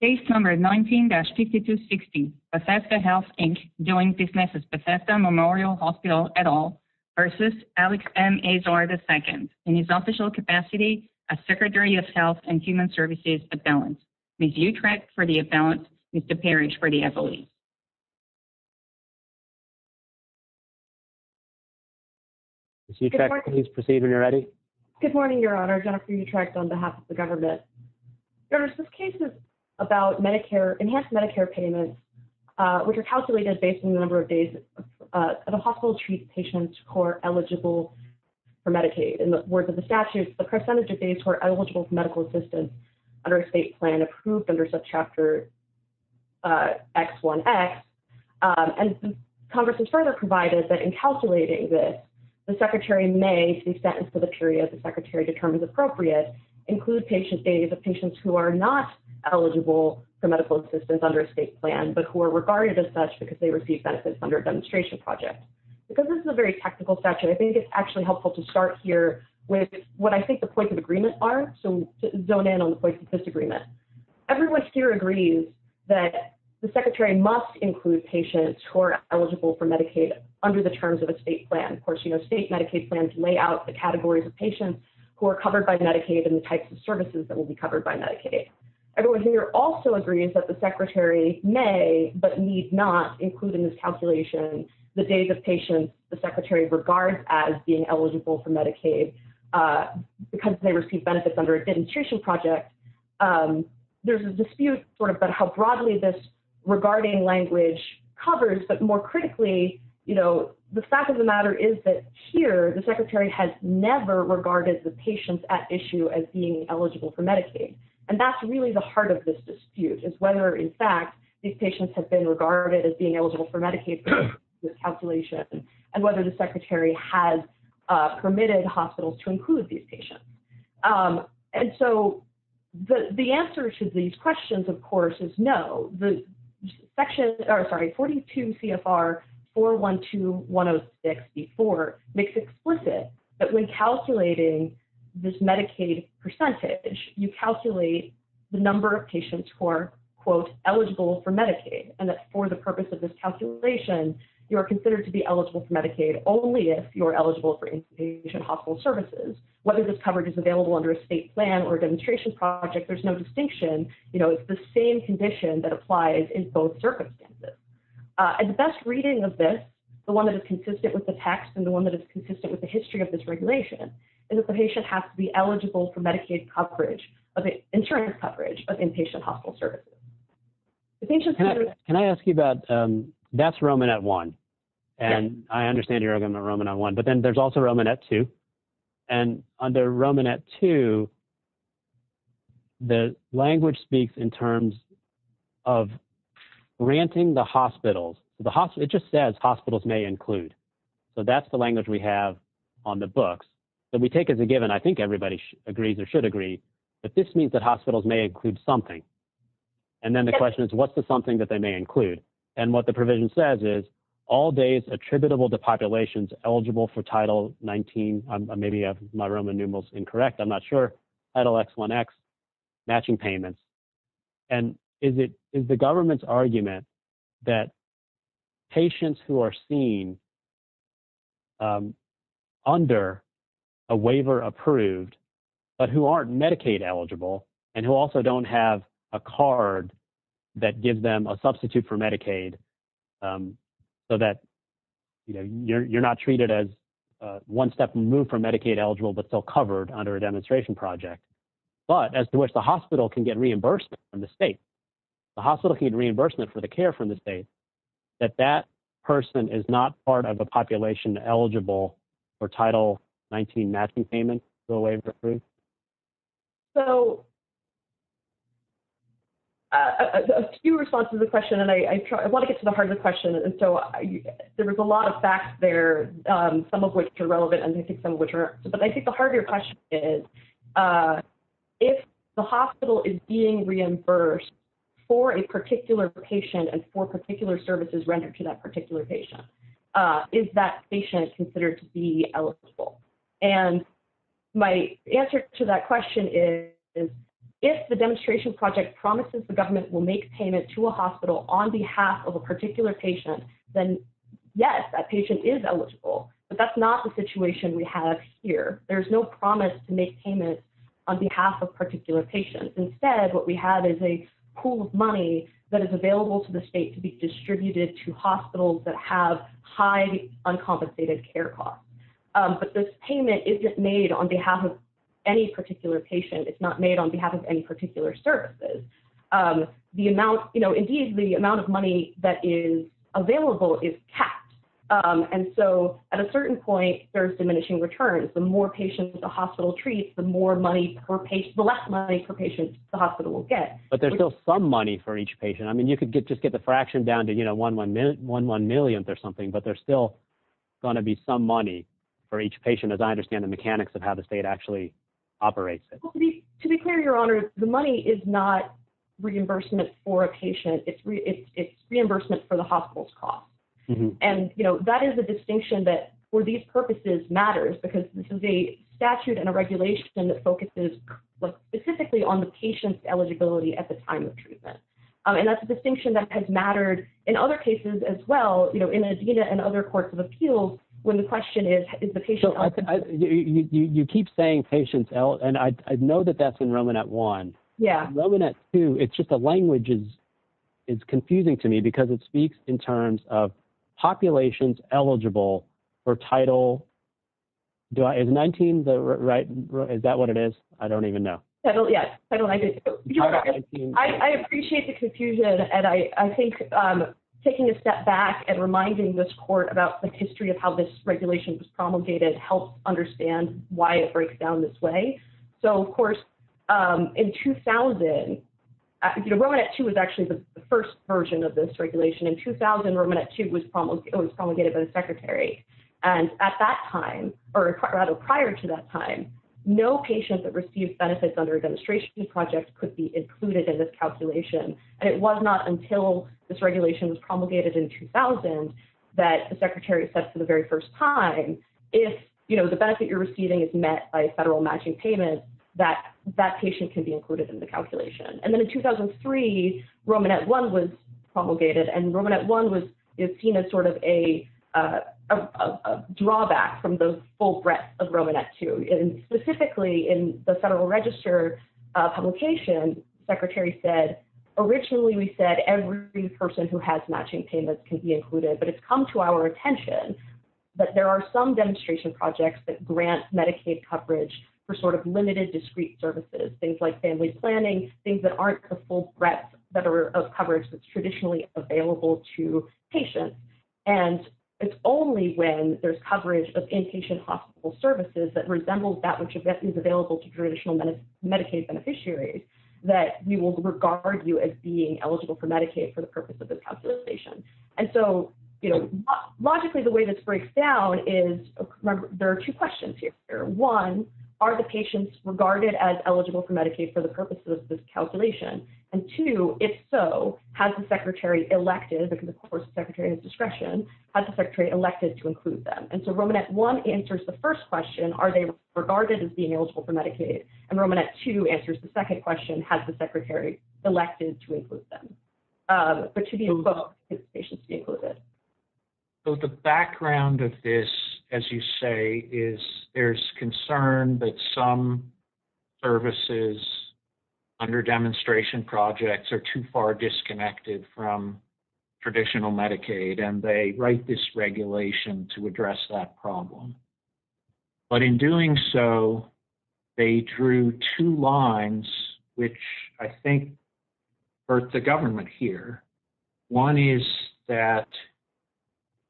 in his official capacity as Secretary of Health and Human Services, Appellant, Ms. Utrecht for the Appellant, Mr. Parrish for the Affiliate. Ms. Utrecht, please proceed when you're ready. Good morning, Your Honor. Jennifer Utrecht on behalf of the government. Your Honor, this case is about Medicare, enhanced Medicare payments, which are calculated based on the number of days that a hospital treats patients who are eligible for Medicaid. In the words of the statute, the percentage of days who are eligible for medical assistance under a state plan approved under subchapter X1X, and Congress has further provided that in calculating this, the Secretary may, to the extent and for the period the Secretary determines appropriate, include patient days of patients who are not eligible for medical assistance under a state plan, but who are regarded as such because they receive benefits under a demonstration project. Because this is a very technical statute, I think it's actually helpful to start here with what I think the points of agreement are to zone in on the points of disagreement. Everyone here agrees that the Secretary must include patients who are eligible for Medicaid under the terms of a state plan. Of course, you know, state Medicaid plans lay out the categories of patients who are covered by Medicaid and the types of services that will be covered by Medicaid. Everyone here also agrees that the Secretary may but need not include in this calculation the days of patients the Secretary regards as being eligible for Medicaid because they receive benefits under a demonstration project. There's a dispute sort of about how broadly this regarding language covers, but more critically, you know, the fact of the matter is that here, the Secretary has never regarded the patients at issue as being eligible for Medicaid. And that's really the heart of this dispute is whether, in fact, these patients have been regarded as being eligible for Medicaid in this calculation and whether the Secretary has permitted hospitals to include these patients. And so the answer to these questions, of course, is no. The section, or sorry, 42 CFR 412-106-B4 makes explicit that when calculating this Medicaid percentage, you calculate the number of patients who are, quote, eligible for Medicaid. And that for the purpose of this calculation, you are considered to be eligible for Medicaid only if you're eligible for inpatient hospital services. Whether this coverage is available under a state plan or a demonstration project, there's no distinction. You know, it's the same condition that applies in both circumstances. And the best reading of this, the one that is consistent with the text and the one that is consistent with the history of this regulation, is that the patient has to be eligible for Medicaid coverage, insurance coverage of inpatient hospital services. Can I ask you about, that's Roman at one. And I understand you're going to Roman on one, but then there's also Roman at two. And under Roman at two, the language speaks in terms of granting the hospitals. The hospital, it just says hospitals may include. So that's the language we have on the books that we take as a given. And I think everybody agrees or should agree that this means that hospitals may include something. And then the question is, what's the something that they may include? And what the provision says is all days attributable to populations eligible for Title 19. Maybe my Roman numeral is incorrect. I'm not sure. Matching payments. And is it is the government's argument that patients who are seen under a waiver approved, but who aren't Medicaid eligible, and who also don't have a card that gives them a substitute for Medicaid so that you're not treated as one step removed from Medicaid eligible, but still covered under a demonstration project, but as to which the hospital can get reimbursement from the state. The hospital can reimbursement for the care from the state that that person is not part of a population eligible for Title 19 matching payment. So. A few responses to the question, and I want to get to the heart of the question. And so there was a lot of facts there, some of which are relevant. And I think some of which are, but I think the heart of your question is, if the hospital is being reimbursed for a particular patient, and for particular services rendered to that particular patient, is that patient considered to be eligible? And my answer to that question is, if the demonstration project promises, the government will make payment to a hospital on behalf of a particular patient. Yes, that patient is eligible, but that's not the situation we have here. There's no promise to make payment on behalf of particular patients. Instead, what we have is a pool of money that is available to the state to be distributed to hospitals that have high uncompensated care costs. But this payment isn't made on behalf of any particular patient. It's not made on behalf of any particular services. Indeed, the amount of money that is available is capped. And so at a certain point, there's diminishing returns. The more patients the hospital treats, the less money per patient the hospital will get. But there's still some money for each patient. I mean, you could just get the fraction down to one one millionth or something, but there's still going to be some money for each patient, as I understand the mechanics of how the state actually operates it. To be clear, Your Honor, the money is not reimbursement for a patient. It's reimbursement for the hospital's cost. And, you know, that is a distinction that for these purposes matters because this is a statute and a regulation that focuses specifically on the patient's eligibility at the time of treatment. And that's a distinction that has mattered in other cases as well, you know, in ADENA and other courts of appeals, when the question is, is the patient eligible? You keep saying patients, and I know that that's in Roman at one. Roman at two. It's just the language is confusing to me because it speaks in terms of populations eligible for title. Is 19, right? Is that what it is? I don't even know. I appreciate the confusion, and I think taking a step back and reminding this court about the history of how this regulation was promulgated helps understand why it breaks down this way. So, of course, in 2000, Roman at two was actually the first version of this regulation. In 2000, Roman at two was promulgated by the secretary. And at that time, or rather prior to that time, no patient that received benefits under a demonstration project could be included in this calculation. And it was not until this regulation was promulgated in 2000 that the secretary said for the very first time, if, you know, the benefit you're receiving is met by a federal matching payment, that that patient can be included in the calculation. And then in 2003, Roman at one was promulgated and Roman at one was seen as sort of a drawback from the full breadth of Roman at two. And specifically in the federal register publication, secretary said, originally, we said, every person who has matching payments can be included, but it's come to our attention. But there are some demonstration projects that grant Medicaid coverage for sort of limited, discrete services, things like family planning, things that aren't the full breadth of coverage that's traditionally available to patients. And it's only when there's coverage of inpatient hospital services that resembles that which is available to traditional Medicaid beneficiaries, that we will regard you as being eligible for Medicaid for the purpose of this calculation. And so, you know, logically, the way this breaks down is, there are two questions here. One, are the patients regarded as eligible for Medicaid for the purpose of this calculation? And two, if so, has the secretary elected, because of course the secretary has discretion, has the secretary elected to include them? And so Roman at one answers the first question, are they regarded as being eligible for Medicaid? And Roman at two answers the second question, has the secretary elected to include them? But to be involved, should patients be included? So the background of this, as you say, is there's concern that some services under demonstration projects are too far disconnected from traditional Medicaid. And they write this regulation to address that problem. But in doing so, they drew two lines, which I think hurt the government here. One is that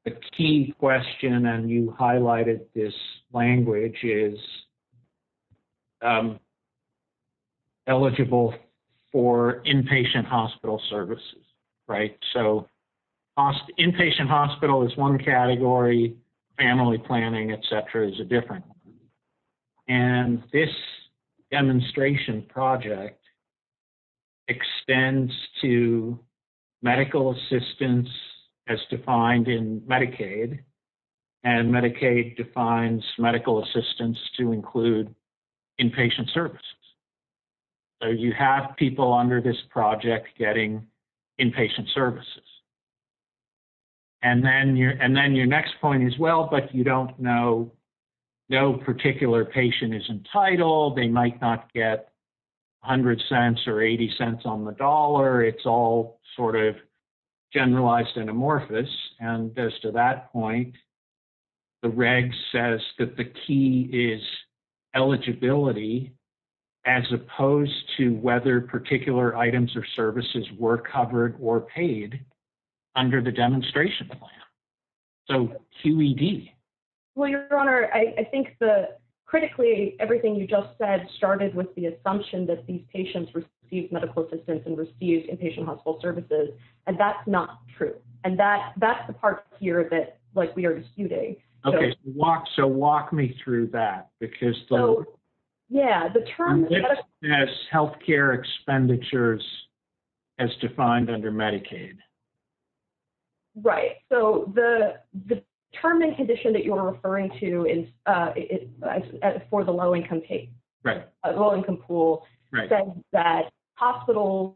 the key question, and you highlighted this language, is eligible for inpatient hospital services, right? So inpatient hospital is one category, family planning, et cetera, is a different one. And this demonstration project extends to medical assistance as defined in Medicaid. And Medicaid defines medical assistance to include inpatient services. So you have people under this project getting inpatient services. And then your next point as well, but you don't know, no particular patient is entitled. They might not get 100 cents or 80 cents on the dollar. It's all sort of generalized and amorphous. And as to that point, the reg says that the key is eligibility as opposed to whether particular items or services were covered or paid under the demonstration plan. So QED. Well, Your Honor, I think that critically, everything you just said started with the assumption that these patients received medical assistance and received inpatient hospital services. And that's not true. And that's the part here that, like, we are disputing. Okay. So walk me through that. Because the term healthcare expenditures as defined under Medicaid. Right. So the term and condition that you're referring to is for the low-income case. Low-income pool says that hospitals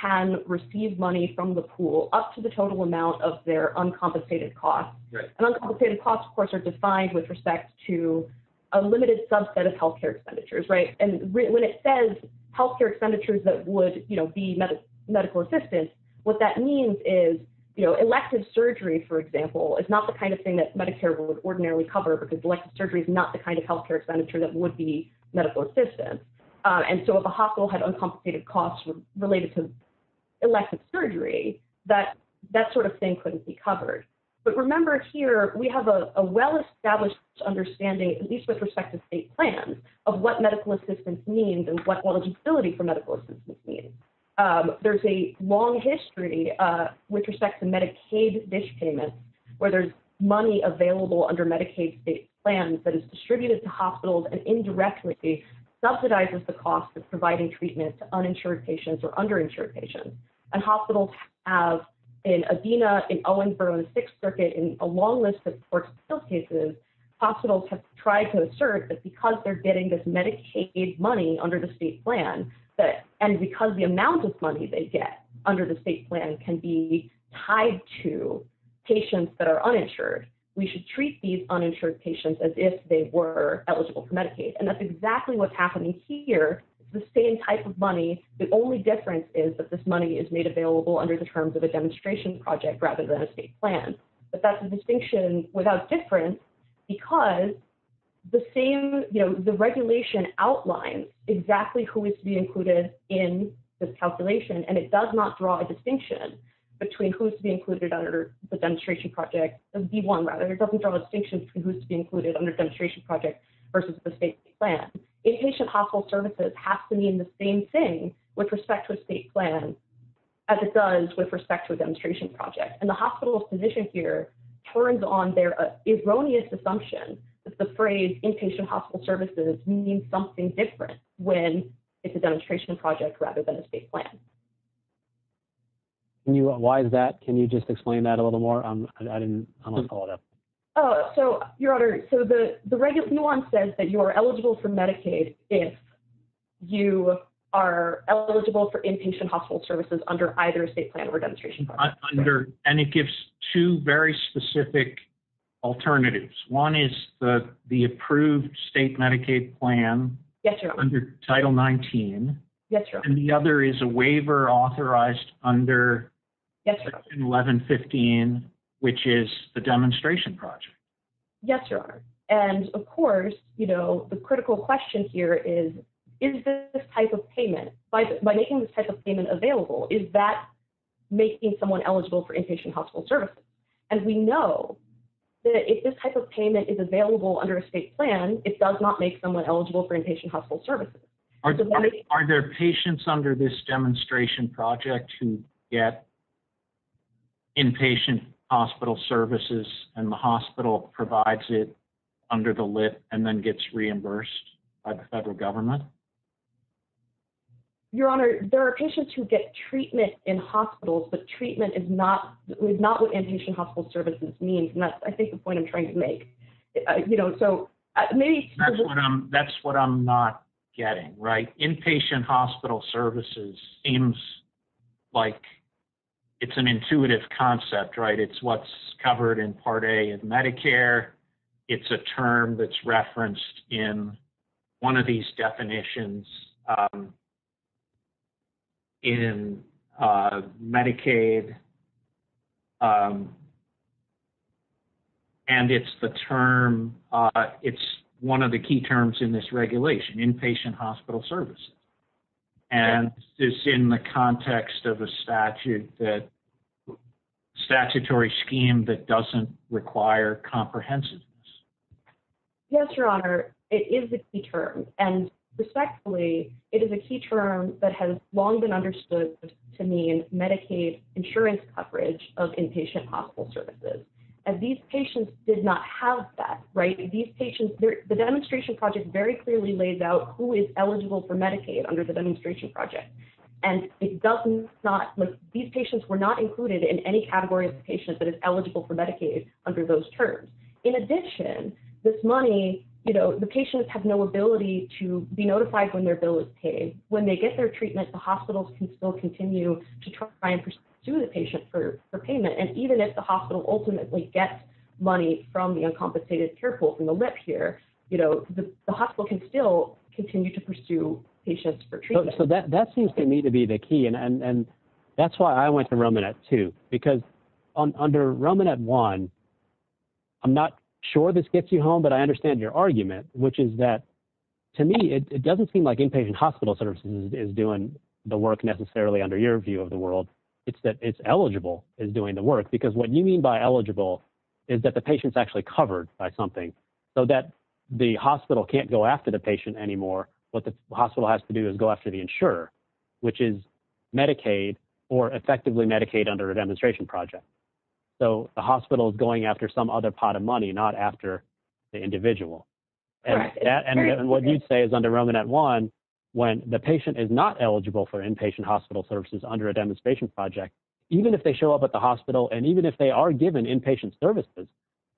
can receive money from the pool up to the total amount of their uncompensated costs. And uncompensated costs, of course, are defined with respect to a limited subset of healthcare expenditures. And when it says healthcare expenditures that would be medical assistance, what that means is elective surgery, for example, is not the kind of thing that Medicare would ordinarily cover because elective surgery is not the kind of healthcare expenditure that would be medical assistance. And so if a hospital had uncompensated costs related to elective surgery, that sort of thing couldn't be covered. But remember here, we have a well-established understanding, at least with respect to state plans, of what medical assistance means and what eligibility for medical assistance means. There's a long history with respect to Medicaid dish payments where there's money available under Medicaid state plans that is distributed to hospitals and indirectly subsidizes the cost of providing treatment to uninsured patients or underinsured patients. And hospitals have, in Adena, in Owenboro, in the Sixth Circuit, in a long list of courts of appeals cases, hospitals have tried to assert that because they're getting this Medicaid money under the state plan and because the amount of money they get under the state plan can be tied to patients that are uninsured, we should treat these uninsured patients as if they were eligible for Medicaid. And that's exactly what's happening here. It's the same type of money. The only difference is that this money is made available under the terms of a demonstration project rather than a state plan. But that's a distinction without difference because the same, you know, the regulation outlines exactly who is to be included in this calculation and it does not draw a distinction between who is to be included under the demonstration project, the D1 rather. It doesn't draw a distinction between who is to be included under the demonstration project versus the state plan. Inpatient hospital services have to mean the same thing with respect to a state plan as it does with respect to a demonstration project. And the hospital physician here turns on their erroneous assumption that the phrase inpatient hospital services means something different when it's a demonstration project rather than a state plan. Why is that? Can you just explain that a little more? I didn't follow it up. So, Your Honor, so the regular nuance says that you are eligible for Medicaid if you are eligible for inpatient hospital services under either state plan or demonstration project. And it gives two very specific alternatives. One is the approved state Medicaid plan under Title 19. And the other is a waiver authorized under Section 1115, which is the demonstration project. Yes, Your Honor. And, of course, you know, the critical question here is, is this type of payment, by making this type of payment available, is that making someone eligible for inpatient hospital services? And we know that if this type of payment is available under a state plan, it does not make someone eligible for inpatient hospital services. Are there patients under this demonstration project who get inpatient hospital services and the hospital provides it under the lid and then gets reimbursed by the federal government? Your Honor, there are patients who get treatment in hospitals, but treatment is not what inpatient hospital services means. And that's, I think, the point I'm trying to make. That's what I'm not getting, right? Inpatient hospital services seems like it's an intuitive concept, right? It's what's covered in Part A of Medicare. It's a term that's referenced in one of these definitions in Medicaid. And it's the term, it's one of the key terms in this regulation, inpatient hospital services. And it's in the context of a statute that statutory scheme that doesn't require comprehensiveness. Yes, Your Honor, it is the key term. And respectfully, it is a key term that has long been understood to mean Medicaid insurance coverage of inpatient hospital services. And these patients did not have that, right? These patients, the demonstration project very clearly lays out who is eligible for Medicaid under the demonstration project. And it doesn't, these patients were not included in any category of patients that is eligible for Medicaid under those terms. In addition, this money, the patients have no ability to be notified when their bill is paid. When they get their treatment, the hospitals can still continue to try and pursue the patient for payment. And even if the hospital ultimately gets money from the uncompensated care pool from the lip here, the hospital can still continue to pursue patients for treatment. So that seems to me to be the key. And that's why I went to Roman at two, because under Roman at one, I'm not sure this gets you home, but I understand your argument, which is that to me, it doesn't seem like inpatient hospital services is doing the work necessarily under your view of the world. It's that it's eligible is doing the work because what you mean by eligible is that the patient's actually covered by something so that the hospital can't go after the patient anymore. What the hospital has to do is go after the insurer, which is Medicaid or effectively Medicaid under a demonstration project. So the hospital is going after some other pot of money, not after the individual. And what you'd say is under Roman at one, when the patient is not eligible for inpatient hospital services under a demonstration project, even if they show up at the hospital, and even if they are given inpatient services,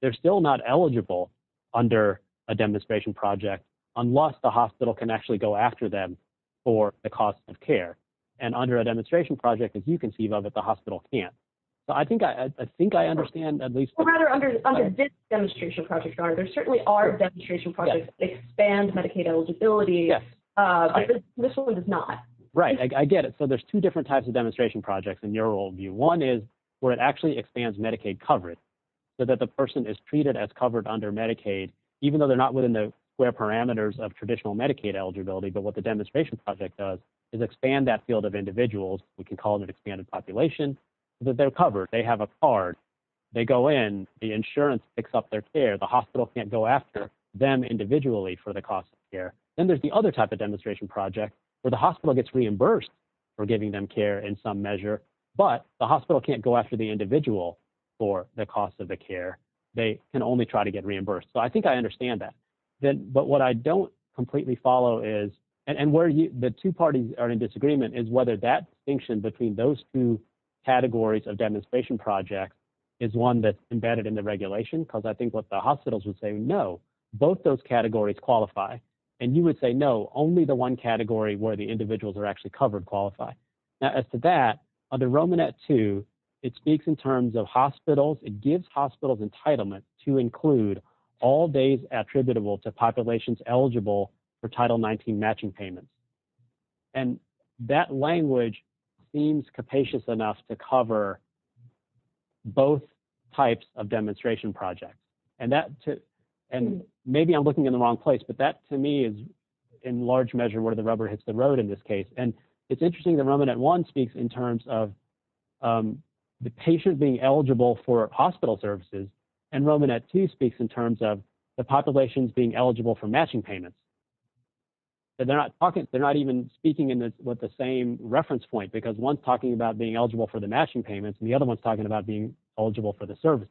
they're still not eligible under a demonstration project. Unless the hospital can actually go after them for the cost of care. And under a demonstration project, as you conceive of it, the hospital can't. So I think I think I understand at least rather under this demonstration project. There certainly are demonstration projects expand Medicaid eligibility. This one is not right. I get it. So there's two different types of demonstration projects in your old view. One is where it actually expands Medicaid coverage so that the person is treated as covered under Medicaid, even though they're not within the square parameters of traditional Medicaid eligibility. But what the demonstration project does is expand that field of individuals, we can call it expanded population, that they're covered, they have a card, they go in, the insurance picks up their care, the hospital can't go after them individually for the cost of care. Then there's the other type of demonstration project where the hospital gets reimbursed for giving them care in some measure, but the hospital can't go after the individual for the cost of the care. They can only try to get reimbursed. So I think I understand that. But what I don't completely follow is, and where the two parties are in disagreement is whether that distinction between those two categories of demonstration projects is one that's embedded in the regulation. Because I think what the hospitals would say no, both those categories qualify. And you would say no, only the one category where the individuals are actually covered qualify. Now as to that, under Romanet 2, it speaks in terms of hospitals, it gives hospitals entitlement to include all days attributable to populations eligible for Title 19 matching payments. And that language seems capacious enough to cover both types of demonstration projects. And maybe I'm looking in the wrong place, but that to me is in large measure where the rubber hits the road in this case. And it's interesting that Romanet 1 speaks in terms of the patient being eligible for hospital services, and Romanet 2 speaks in terms of the populations being eligible for matching payments. They're not even speaking with the same reference point because one's talking about being eligible for the matching payments, and the other one's talking about being eligible for the services.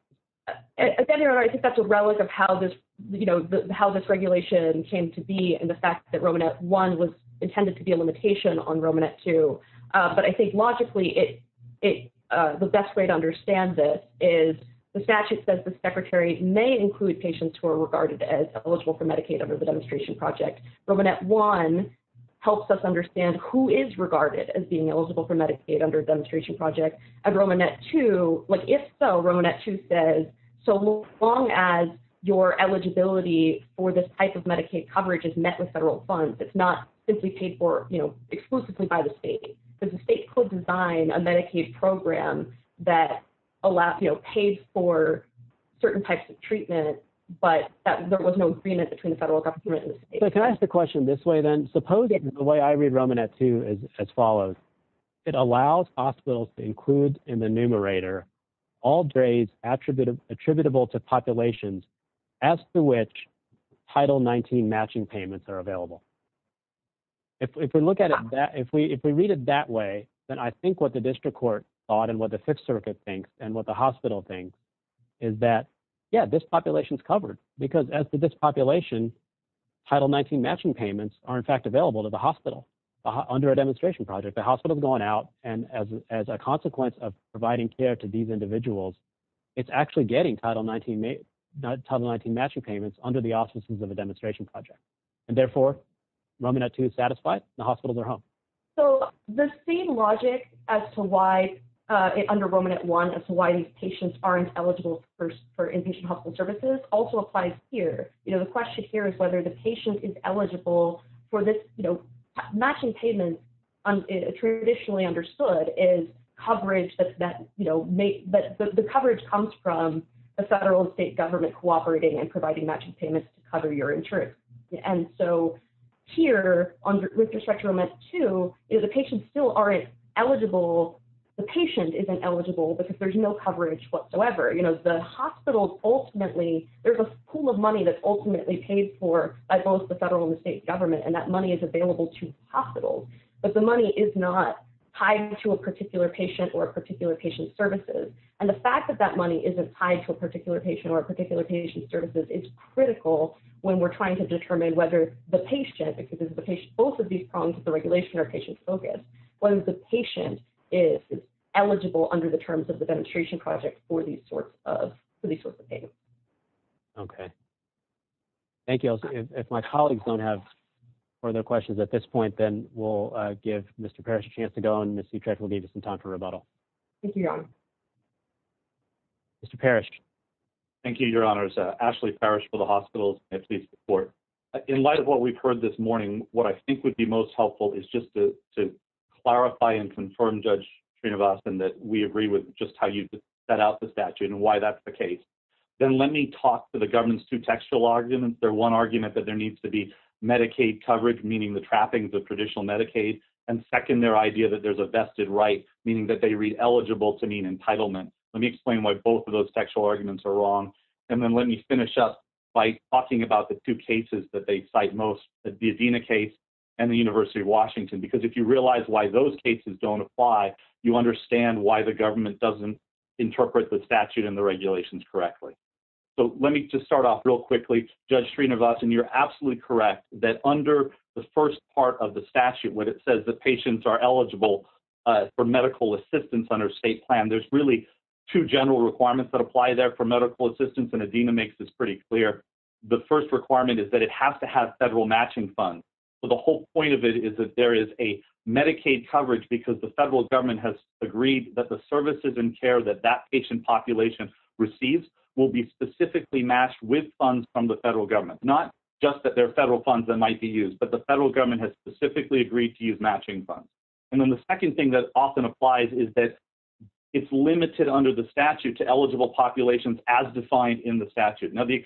At the end of the day, I think that's a relic of how this regulation came to be and the fact that Romanet 1 was intended to be a limitation on Romanet 2. But I think logically, the best way to understand this is the statute says the secretary may include patients who are regarded as eligible for Medicaid under the demonstration project. Romanet 1 helps us understand who is regarded as being eligible for Medicaid under a demonstration project. And Romanet 2, if so, Romanet 2 says, so long as your eligibility for this type of Medicaid coverage is met with federal funds, it's not simply paid for exclusively by the state. Because the state could design a Medicaid program that paid for certain types of treatment, but there was no agreement between the federal government and the state. So can I ask the question this way then? Supposing the way I read Romanet 2 is as follows. It allows hospitals to include in the numerator all grades attributable to populations as to which Title 19 matching payments are available. If we look at it that – if we read it that way, then I think what the district court thought and what the Fifth Circuit thinks and what the hospital thinks is that, yeah, this population is covered. Because as to this population, Title 19 matching payments are in fact available to the hospital under a demonstration project. The hospital is going out, and as a consequence of providing care to these individuals, it's actually getting Title 19 matching payments under the auspices of a demonstration project. And therefore, Romanet 2 is satisfied. The hospitals are home. So the same logic as to why – under Romanet 1 as to why these patients aren't eligible for inpatient hospital services also applies here. The question here is whether the patient is eligible for this – matching payments, traditionally understood, is coverage that's – the coverage comes from the federal and state government cooperating and providing matching payments to cover your insurance. And so here, with respect to Romanet 2, the patients still aren't eligible – the patient isn't eligible because there's no coverage whatsoever. You know, the hospitals ultimately – there's a pool of money that's ultimately paid for by both the federal and the state government, and that money is available to hospitals. But the money is not tied to a particular patient or a particular patient's services. And the fact that that money isn't tied to a particular patient or a particular patient's services is critical when we're trying to determine whether the patient – because both of these prongs of the regulation are patient-focused – whether the patient is eligible under the terms of the demonstration project for these sorts of payments. Okay. Thank you. If my colleagues don't have further questions at this point, then we'll give Mr. Parrish a chance to go, and Ms. Sutrek will give us some time for rebuttal. Thank you, Your Honor. Mr. Parrish. Thank you, Your Honors. Ashley Parrish for the hospitals and police report. In light of what we've heard this morning, what I think would be most helpful is just to clarify and confirm, Judge Srinivasan, that we agree with just how you set out the statute and why that's the case. Then let me talk to the government's two textual arguments. Their one argument that there needs to be Medicaid coverage, meaning the trappings of traditional Medicaid. And second, their idea that there's a vested right, meaning that they read eligible to mean entitlement. Let me explain why both of those textual arguments are wrong. And then let me finish up by talking about the two cases that they cite most, the Adena case and the University of Washington. Because if you realize why those cases don't apply, you understand why the government doesn't interpret the statute and the regulations correctly. So let me just start off real quickly, Judge Srinivasan. You're absolutely correct that under the first part of the statute, when it says that patients are eligible for medical assistance under state plan, there's really two general requirements that apply there for medical assistance. And Adena makes this pretty clear. The first requirement is that it has to have federal matching funds. The whole point of it is that there is a Medicaid coverage because the federal government has agreed that the services and care that that patient population receives will be specifically matched with funds from the federal government. Not just that they're federal funds that might be used, but the federal government has specifically agreed to use matching funds. And then the second thing that often applies is that it's limited under the statute to eligible populations as defined in the statute. Now, the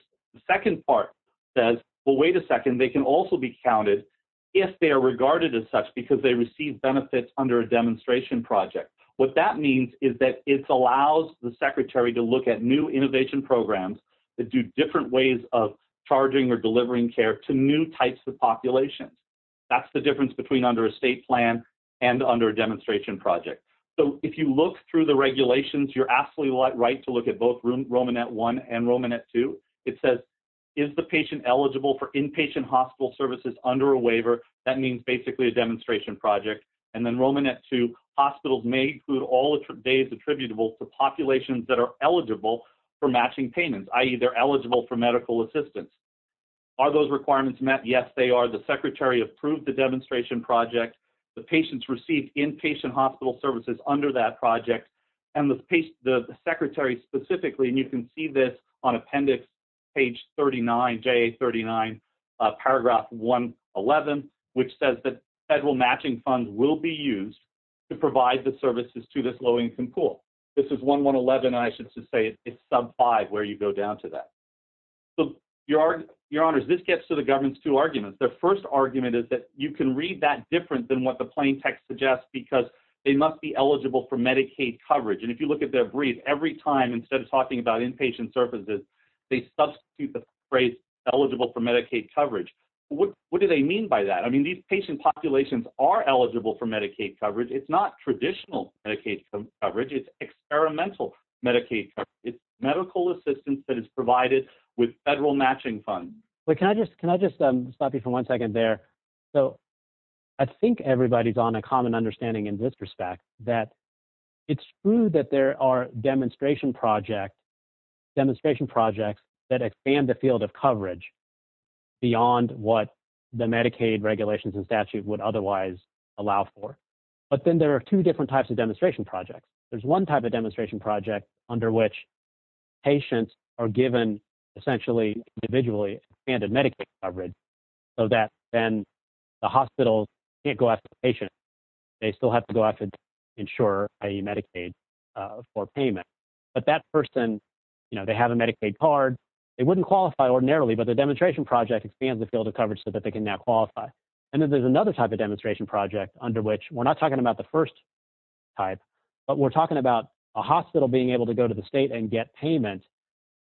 second part says, well, wait a second. They can also be counted if they are regarded as such because they receive benefits under a demonstration project. What that means is that it allows the secretary to look at new innovation programs that do different ways of charging or delivering care to new types of populations. That's the difference between under a state plan and under a demonstration project. If you look through the regulations, you're absolutely right to look at both Romanet 1 and Romanet 2. It says, is the patient eligible for inpatient hospital services under a waiver? That means basically a demonstration project. And then Romanet 2, hospitals may include all days attributable to populations that are eligible for matching payments, i.e., they're eligible for medical assistance. Are those requirements met? Yes, they are. The secretary approved the demonstration project. The patients received inpatient hospital services under that project. And the secretary specifically, and you can see this on appendix page 39, JA39, paragraph 111, which says that federal matching funds will be used to provide the services to this low-income pool. This is 111, and I should say it's sub 5 where you go down to that. So, Your Honors, this gets to the government's two arguments. Their first argument is that you can read that different than what the plain text suggests because they must be eligible for Medicaid coverage. And if you look at their brief, every time, instead of talking about inpatient services, they substitute the phrase eligible for Medicaid coverage. What do they mean by that? I mean, these patient populations are eligible for Medicaid coverage. It's not traditional Medicaid coverage. It's experimental Medicaid coverage. It's medical assistance that is provided with federal matching funds. Can I just stop you for one second there? So, I think everybody's on a common understanding in this respect, that it's true that there are demonstration projects that expand the field of coverage beyond what the Medicaid regulations and statute would otherwise allow for. But then there are two different types of demonstration projects. There's one type of demonstration project under which patients are given essentially individually expanded Medicaid coverage so that then the hospital can't go out to the patient. They still have to go out to insure a Medicaid for payment. But that person, you know, they have a Medicaid card. They wouldn't qualify ordinarily, but the demonstration project expands the field of coverage so that they can now qualify. And then there's another type of demonstration project under which we're not talking about the first type, but we're talking about a hospital being able to go to the state and get payment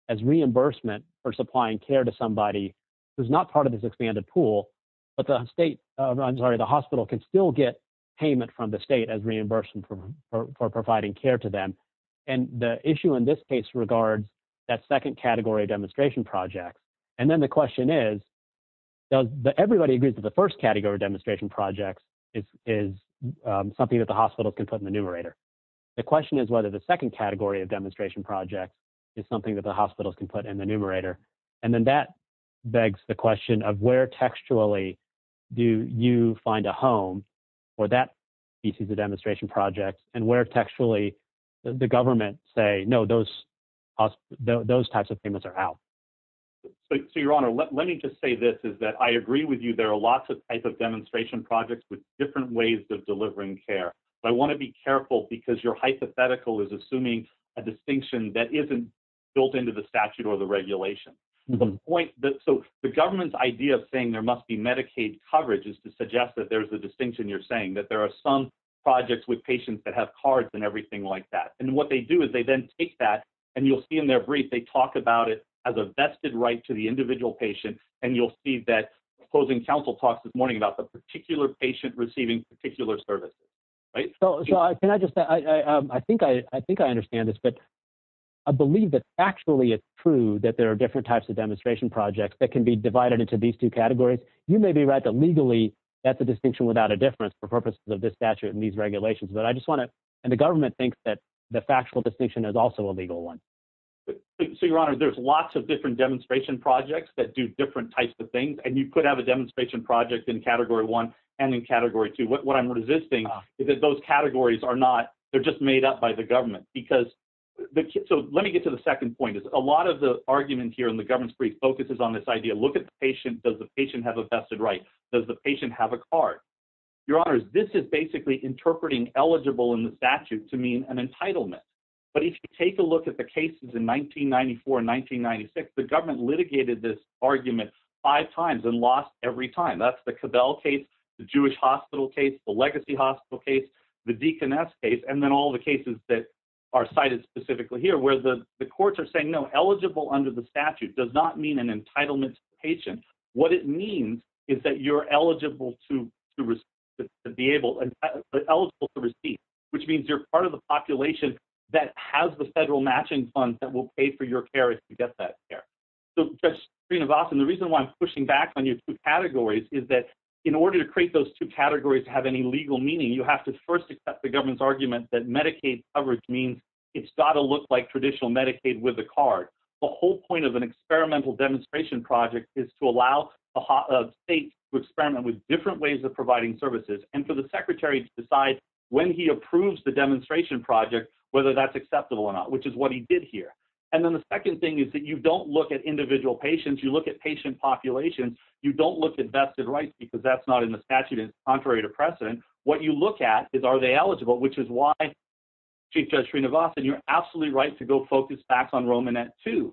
as reimbursement for supplying care to somebody who's not part of this expanded pool. But the state, I'm sorry, the hospital can still get payment from the state as reimbursement for providing care to them. And the issue in this case regards that second category demonstration project. And then the question is, everybody agrees that the first category demonstration projects is something that the hospitals can put in the numerator. The question is whether the second category of demonstration project is something that the hospitals can put in the numerator. And then that begs the question of where textually do you find a home for that piece of the demonstration project and where textually the government say, no, those types of payments are out. So, your honor, let me just say this is that I agree with you. There are lots of types of demonstration projects with different ways of delivering care. I want to be careful because your hypothetical is assuming a distinction that isn't built into the statute or the regulation. The point that so the government's idea of saying there must be Medicaid coverage is to suggest that there's a distinction. You're saying that there are some projects with patients that have cards and everything like that. And what they do is they then take that and you'll see in their brief, they talk about it as a vested right to the individual patient. And you'll see that closing counsel talks this morning about the particular patient receiving particular services. Right. So, can I just I think I think I understand this, but I believe that actually it's true that there are different types of demonstration projects that can be divided into these two categories. You may be right that legally, that's a distinction without a difference for purposes of this statute and these regulations. But I just want to and the government thinks that the factual distinction is also a legal one. So, your honor, there's lots of different demonstration projects that do different types of things. And you could have a demonstration project in category one and in category two. What I'm resisting is that those categories are not they're just made up by the government because. So, let me get to the second point is a lot of the argument here in the government's brief focuses on this idea. Look at the patient. Does the patient have a vested right? Does the patient have a card? Your honors, this is basically interpreting eligible in the statute to mean an entitlement. But if you take a look at the cases in 1994, 1996, the government litigated this argument five times and lost every time. That's the cabal case, the Jewish hospital case, the legacy hospital case, the deaconess case. And then all the cases that are cited specifically here where the courts are saying, no, eligible under the statute does not mean an entitlement patient. What it means is that you're eligible to be able to receive, which means you're part of the population that has the federal matching funds that will pay for your care if you get that care. So, the reason why I'm pushing back on your two categories is that in order to create those two categories to have any legal meaning, you have to first accept the government's argument that Medicaid coverage means it's got to look like traditional Medicaid with a card. The whole point of an experimental demonstration project is to allow a state to experiment with different ways of providing services and for the secretary to decide when he approves the demonstration project whether that's acceptable or not, which is what he did here. And then the second thing is that you don't look at individual patients. You look at patient populations. You don't look at vested rights because that's not in the statute. It's contrary to precedent. What you look at is are they eligible, which is why, Chief Judge Srinivasan, you're absolutely right to go focus back on Romanet II.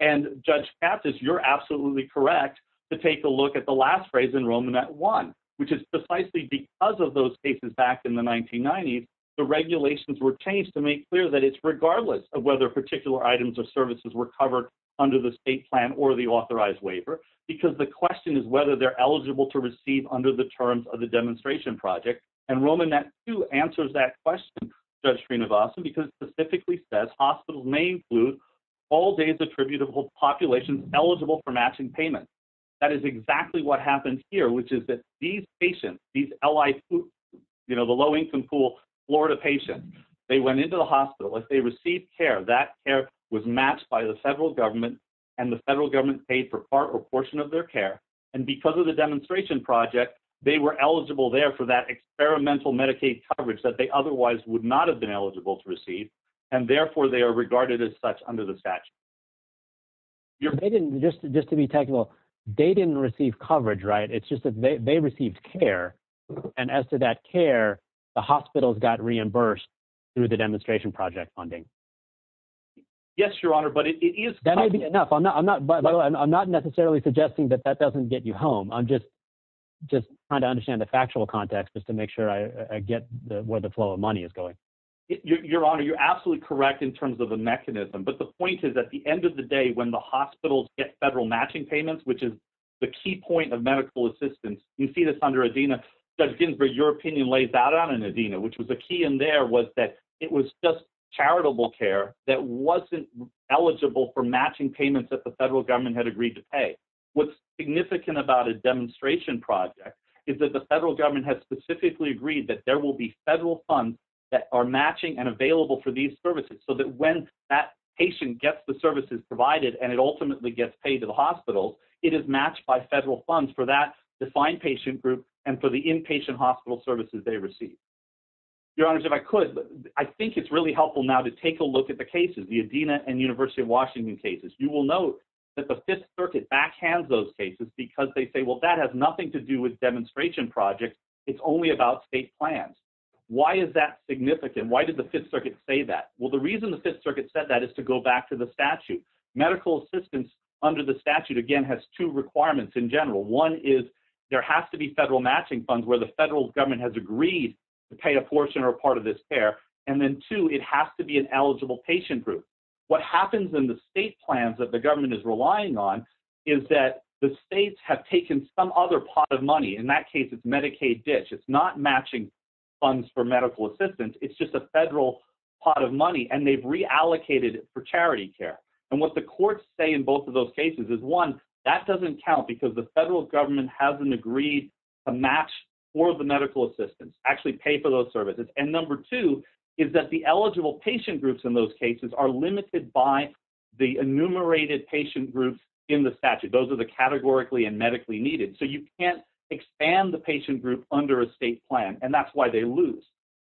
And, Judge Kaptos, you're absolutely correct to take a look at the last phrase in Romanet I, which is precisely because of those cases back in the 1990s, the regulations were changed to make clear that it's regardless of whether particular items or services were covered under the state plan or the authorized waiver because the question is whether they're eligible to receive under the terms of the demonstration project. And Romanet II answers that question, Judge Srinivasan, because it specifically says hospitals may include all days attributable populations eligible for matching payments. That is exactly what happened here, which is that these patients, these LI, you know, the low-income pool Florida patients, they went into the hospital. If they received care, that care was matched by the federal government, and the federal government paid for part or portion of their care. And because of the demonstration project, they were eligible there for that experimental Medicaid coverage that they otherwise would not have been eligible to receive, and therefore they are regarded as such under the statute. They didn't – just to be technical, they didn't receive coverage, right? It's just that they received care, and as to that care, the hospitals got reimbursed through the demonstration project funding. Yes, Your Honor, but it is – That may be enough. I'm not necessarily suggesting that that doesn't get you home. I'm just trying to understand the factual context just to make sure I get where the flow of money is going. Your Honor, you're absolutely correct in terms of the mechanism. But the point is, at the end of the day, when the hospitals get federal matching payments, which is the key point of medical assistance, you see this under ADENA, Judge Ginsburg, your opinion lays out on it in ADENA, which was the key in there was that it was just charitable care that wasn't eligible for matching payments that the federal government had agreed to pay. What's significant about a demonstration project is that the federal government has specifically agreed that there will be federal funds that are matching and available for these services, so that when that patient gets the services provided and it ultimately gets paid to the hospitals, it is matched by federal funds for that defined patient group and for the inpatient hospital services they receive. Your Honors, if I could, I think it's really helpful now to take a look at the cases, the ADENA and University of Washington cases. You will note that the Fifth Circuit backhands those cases because they say, well, that has nothing to do with demonstration projects. It's only about state plans. Why is that significant? Why did the Fifth Circuit say that? Well, the reason the Fifth Circuit said that is to go back to the statute. Medical assistance under the statute, again, has two requirements in general. One is there has to be federal matching funds where the federal government has agreed to pay a portion or part of this care. And then two, it has to be an eligible patient group. What happens in the state plans that the government is relying on is that the states have taken some other pot of money. In that case, it's Medicaid ditch. It's not matching funds for medical assistance. It's just a federal pot of money, and they've reallocated it for charity care. And what the courts say in both of those cases is, one, that doesn't count because the federal government hasn't agreed to match for the medical assistance, actually pay for those services. And number two is that the eligible patient groups in those cases are limited by the enumerated patient groups in the statute. Those are the categorically and medically needed. So you can't expand the patient group under a state plan, and that's why they lose.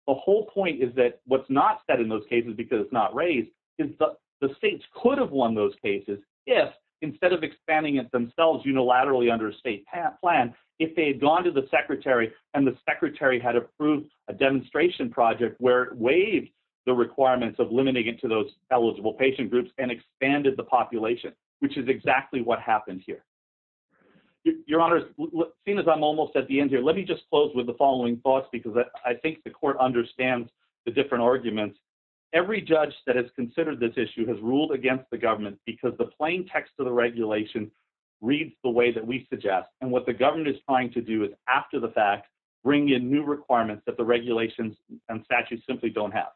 The whole point is that what's not said in those cases, because it's not raised, is the states could have won those cases if, instead of expanding it themselves unilaterally under a state plan, if they had gone to the secretary, and the secretary had approved a demonstration project where it waived the requirements of limiting it to those eligible patient groups and expanded the population, which is exactly what happened here. Your Honors, seeing as I'm almost at the end here, let me just close with the following thoughts, because I think the court understands the different arguments. Every judge that has considered this issue has ruled against the government because the plain text of the regulation reads the way that we suggest, and what the government is trying to do is, after the fact, bring in new requirements that the regulations and statutes simply don't have.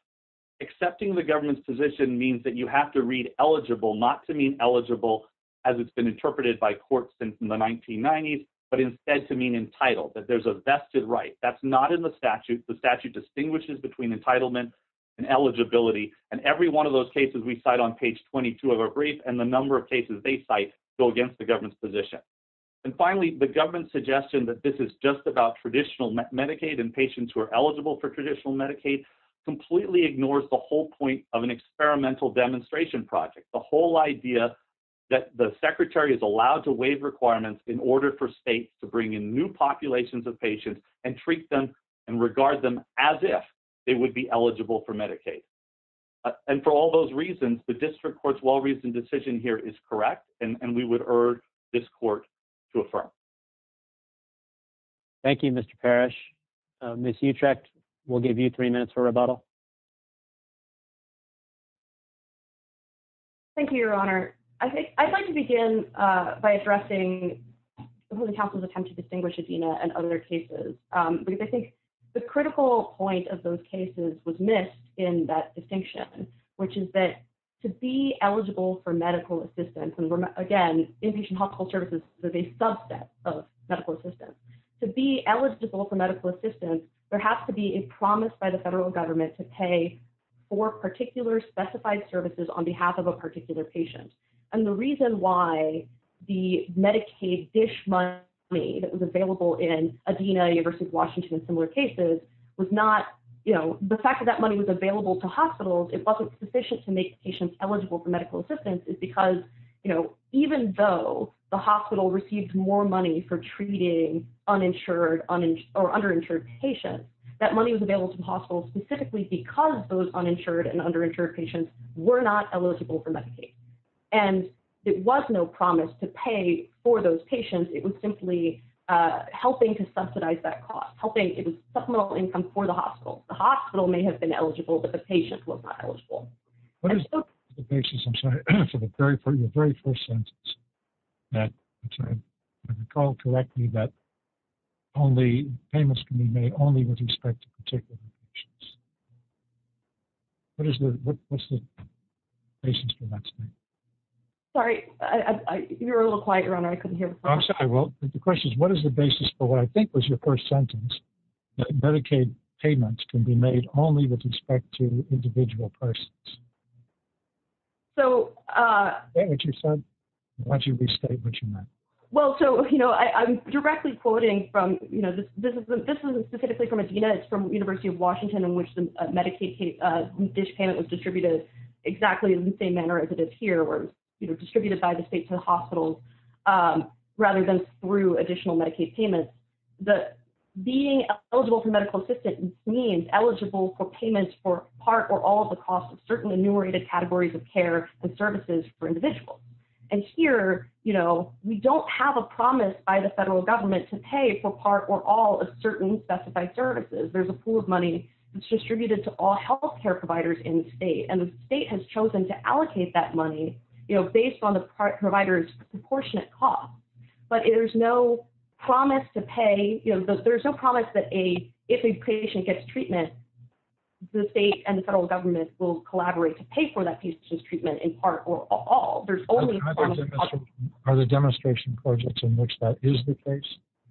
Accepting the government's position means that you have to read eligible not to mean eligible, as it's been interpreted by courts since the 1990s, but instead to mean entitled, that there's a vested right. That's not in the statute. The statute distinguishes between entitlement and eligibility, and every one of those cases we cite on page 22 of our brief and the number of cases they cite go against the government's position. And finally, the government's suggestion that this is just about traditional Medicaid and patients who are eligible for traditional Medicaid completely ignores the whole point of an experimental demonstration project, the whole idea that the secretary is allowed to waive requirements in order for states to bring in new populations of patients and treat them and regard them as if they would be eligible for Medicaid. And for all those reasons, the district court's well-reasoned decision here is correct, and we would urge this court to affirm. Thank you, Mr. Parrish. Ms. Utrecht, we'll give you three minutes for rebuttal. Thank you, Your Honor. I'd like to begin by addressing the Counsel's attempt to distinguish Adina and other cases. I think the critical point of those cases was missed in that distinction, which is that to be eligible for medical assistance, and again, inpatient hospital services is a subset of medical assistance. To be eligible for medical assistance, there has to be a promise by the federal government to pay for particular specified services on behalf of a particular patient. And the reason why the Medicaid dish money that was available in Adina versus Washington and similar cases was not, you know, the fact that that money was available to hospitals, it wasn't sufficient to make patients eligible for medical assistance, is because, you know, even though the hospital received more money for treating uninsured or underinsured patients, that money was available to hospitals specifically because those uninsured and underinsured patients were not eligible for Medicaid. And it was no promise to pay for those patients. It was simply helping to subsidize that cost, helping in supplemental income for the hospital. The hospital may have been eligible, but the patient was not eligible. What is the basis, I'm sorry, for your very first sentence? I recall correctly that payments can be made only with respect to particular patients. What is the basis for that statement? Sorry, you were a little quiet, Your Honor, I couldn't hear. I'm sorry. Well, the question is, what is the basis for what I think was your first sentence? Medicaid payments can be made only with respect to individual persons. So, Is that what you said? Why don't you restate what you meant? Well, so, you know, I'm directly quoting from, you know, this is specifically from Adina. It's from University of Washington in which the Medicaid dish payment was distributed exactly in the same manner as it is here, or, you know, distributed by the state to the hospital, rather than through additional Medicaid payments. Being eligible for medical assistance means eligible for payments for part or all of the cost of certain enumerated categories of care and services for individuals. And here, you know, we don't have a promise by the federal government to pay for part or all of certain specified services. There's a pool of money that's distributed to all health care providers in the state, and the state has chosen to allocate that money, you know, based on the provider's proportionate cost. But there's no promise to pay, you know, there's no promise that if a patient gets treatment, the state and the federal government will collaborate to pay for that patient's treatment in part or all. Are there demonstration projects in which that is the case?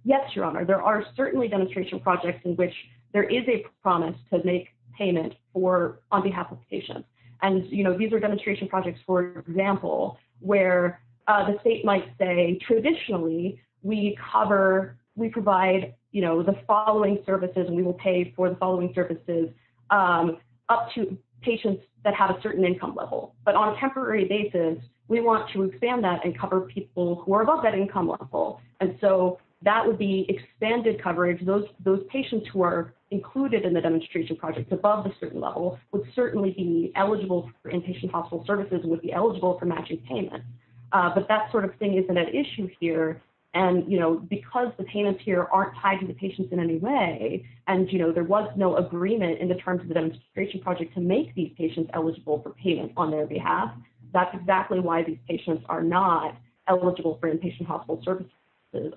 Yes, Your Honor. There are certainly demonstration projects in which there is a promise to make payment on behalf of patients. And, you know, these are demonstration projects, for example, where the state might say, traditionally, we cover, we provide, you know, the following services, and we will pay for the following services up to patients that have a certain income level. But on a temporary basis, we want to expand that and cover people who are above that income level. And so that would be expanded coverage. Those patients who are included in the demonstration projects above a certain level would certainly be eligible for inpatient hospital services, would be eligible for matching payment. But that sort of thing isn't an issue here. And, you know, because the payments here aren't tied to the patients in any way, and, you know, there was no agreement in the terms of the demonstration project to make these patients eligible for payment on their behalf. That's exactly why these patients are not eligible for inpatient hospital services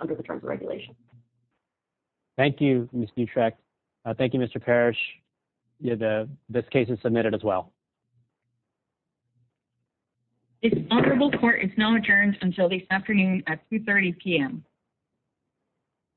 under the terms of regulation. Thank you, Ms. Butrek. Thank you, Mr. Parrish. This case is submitted as well. This honorable court is now adjourned until this afternoon at 2.30 p.m.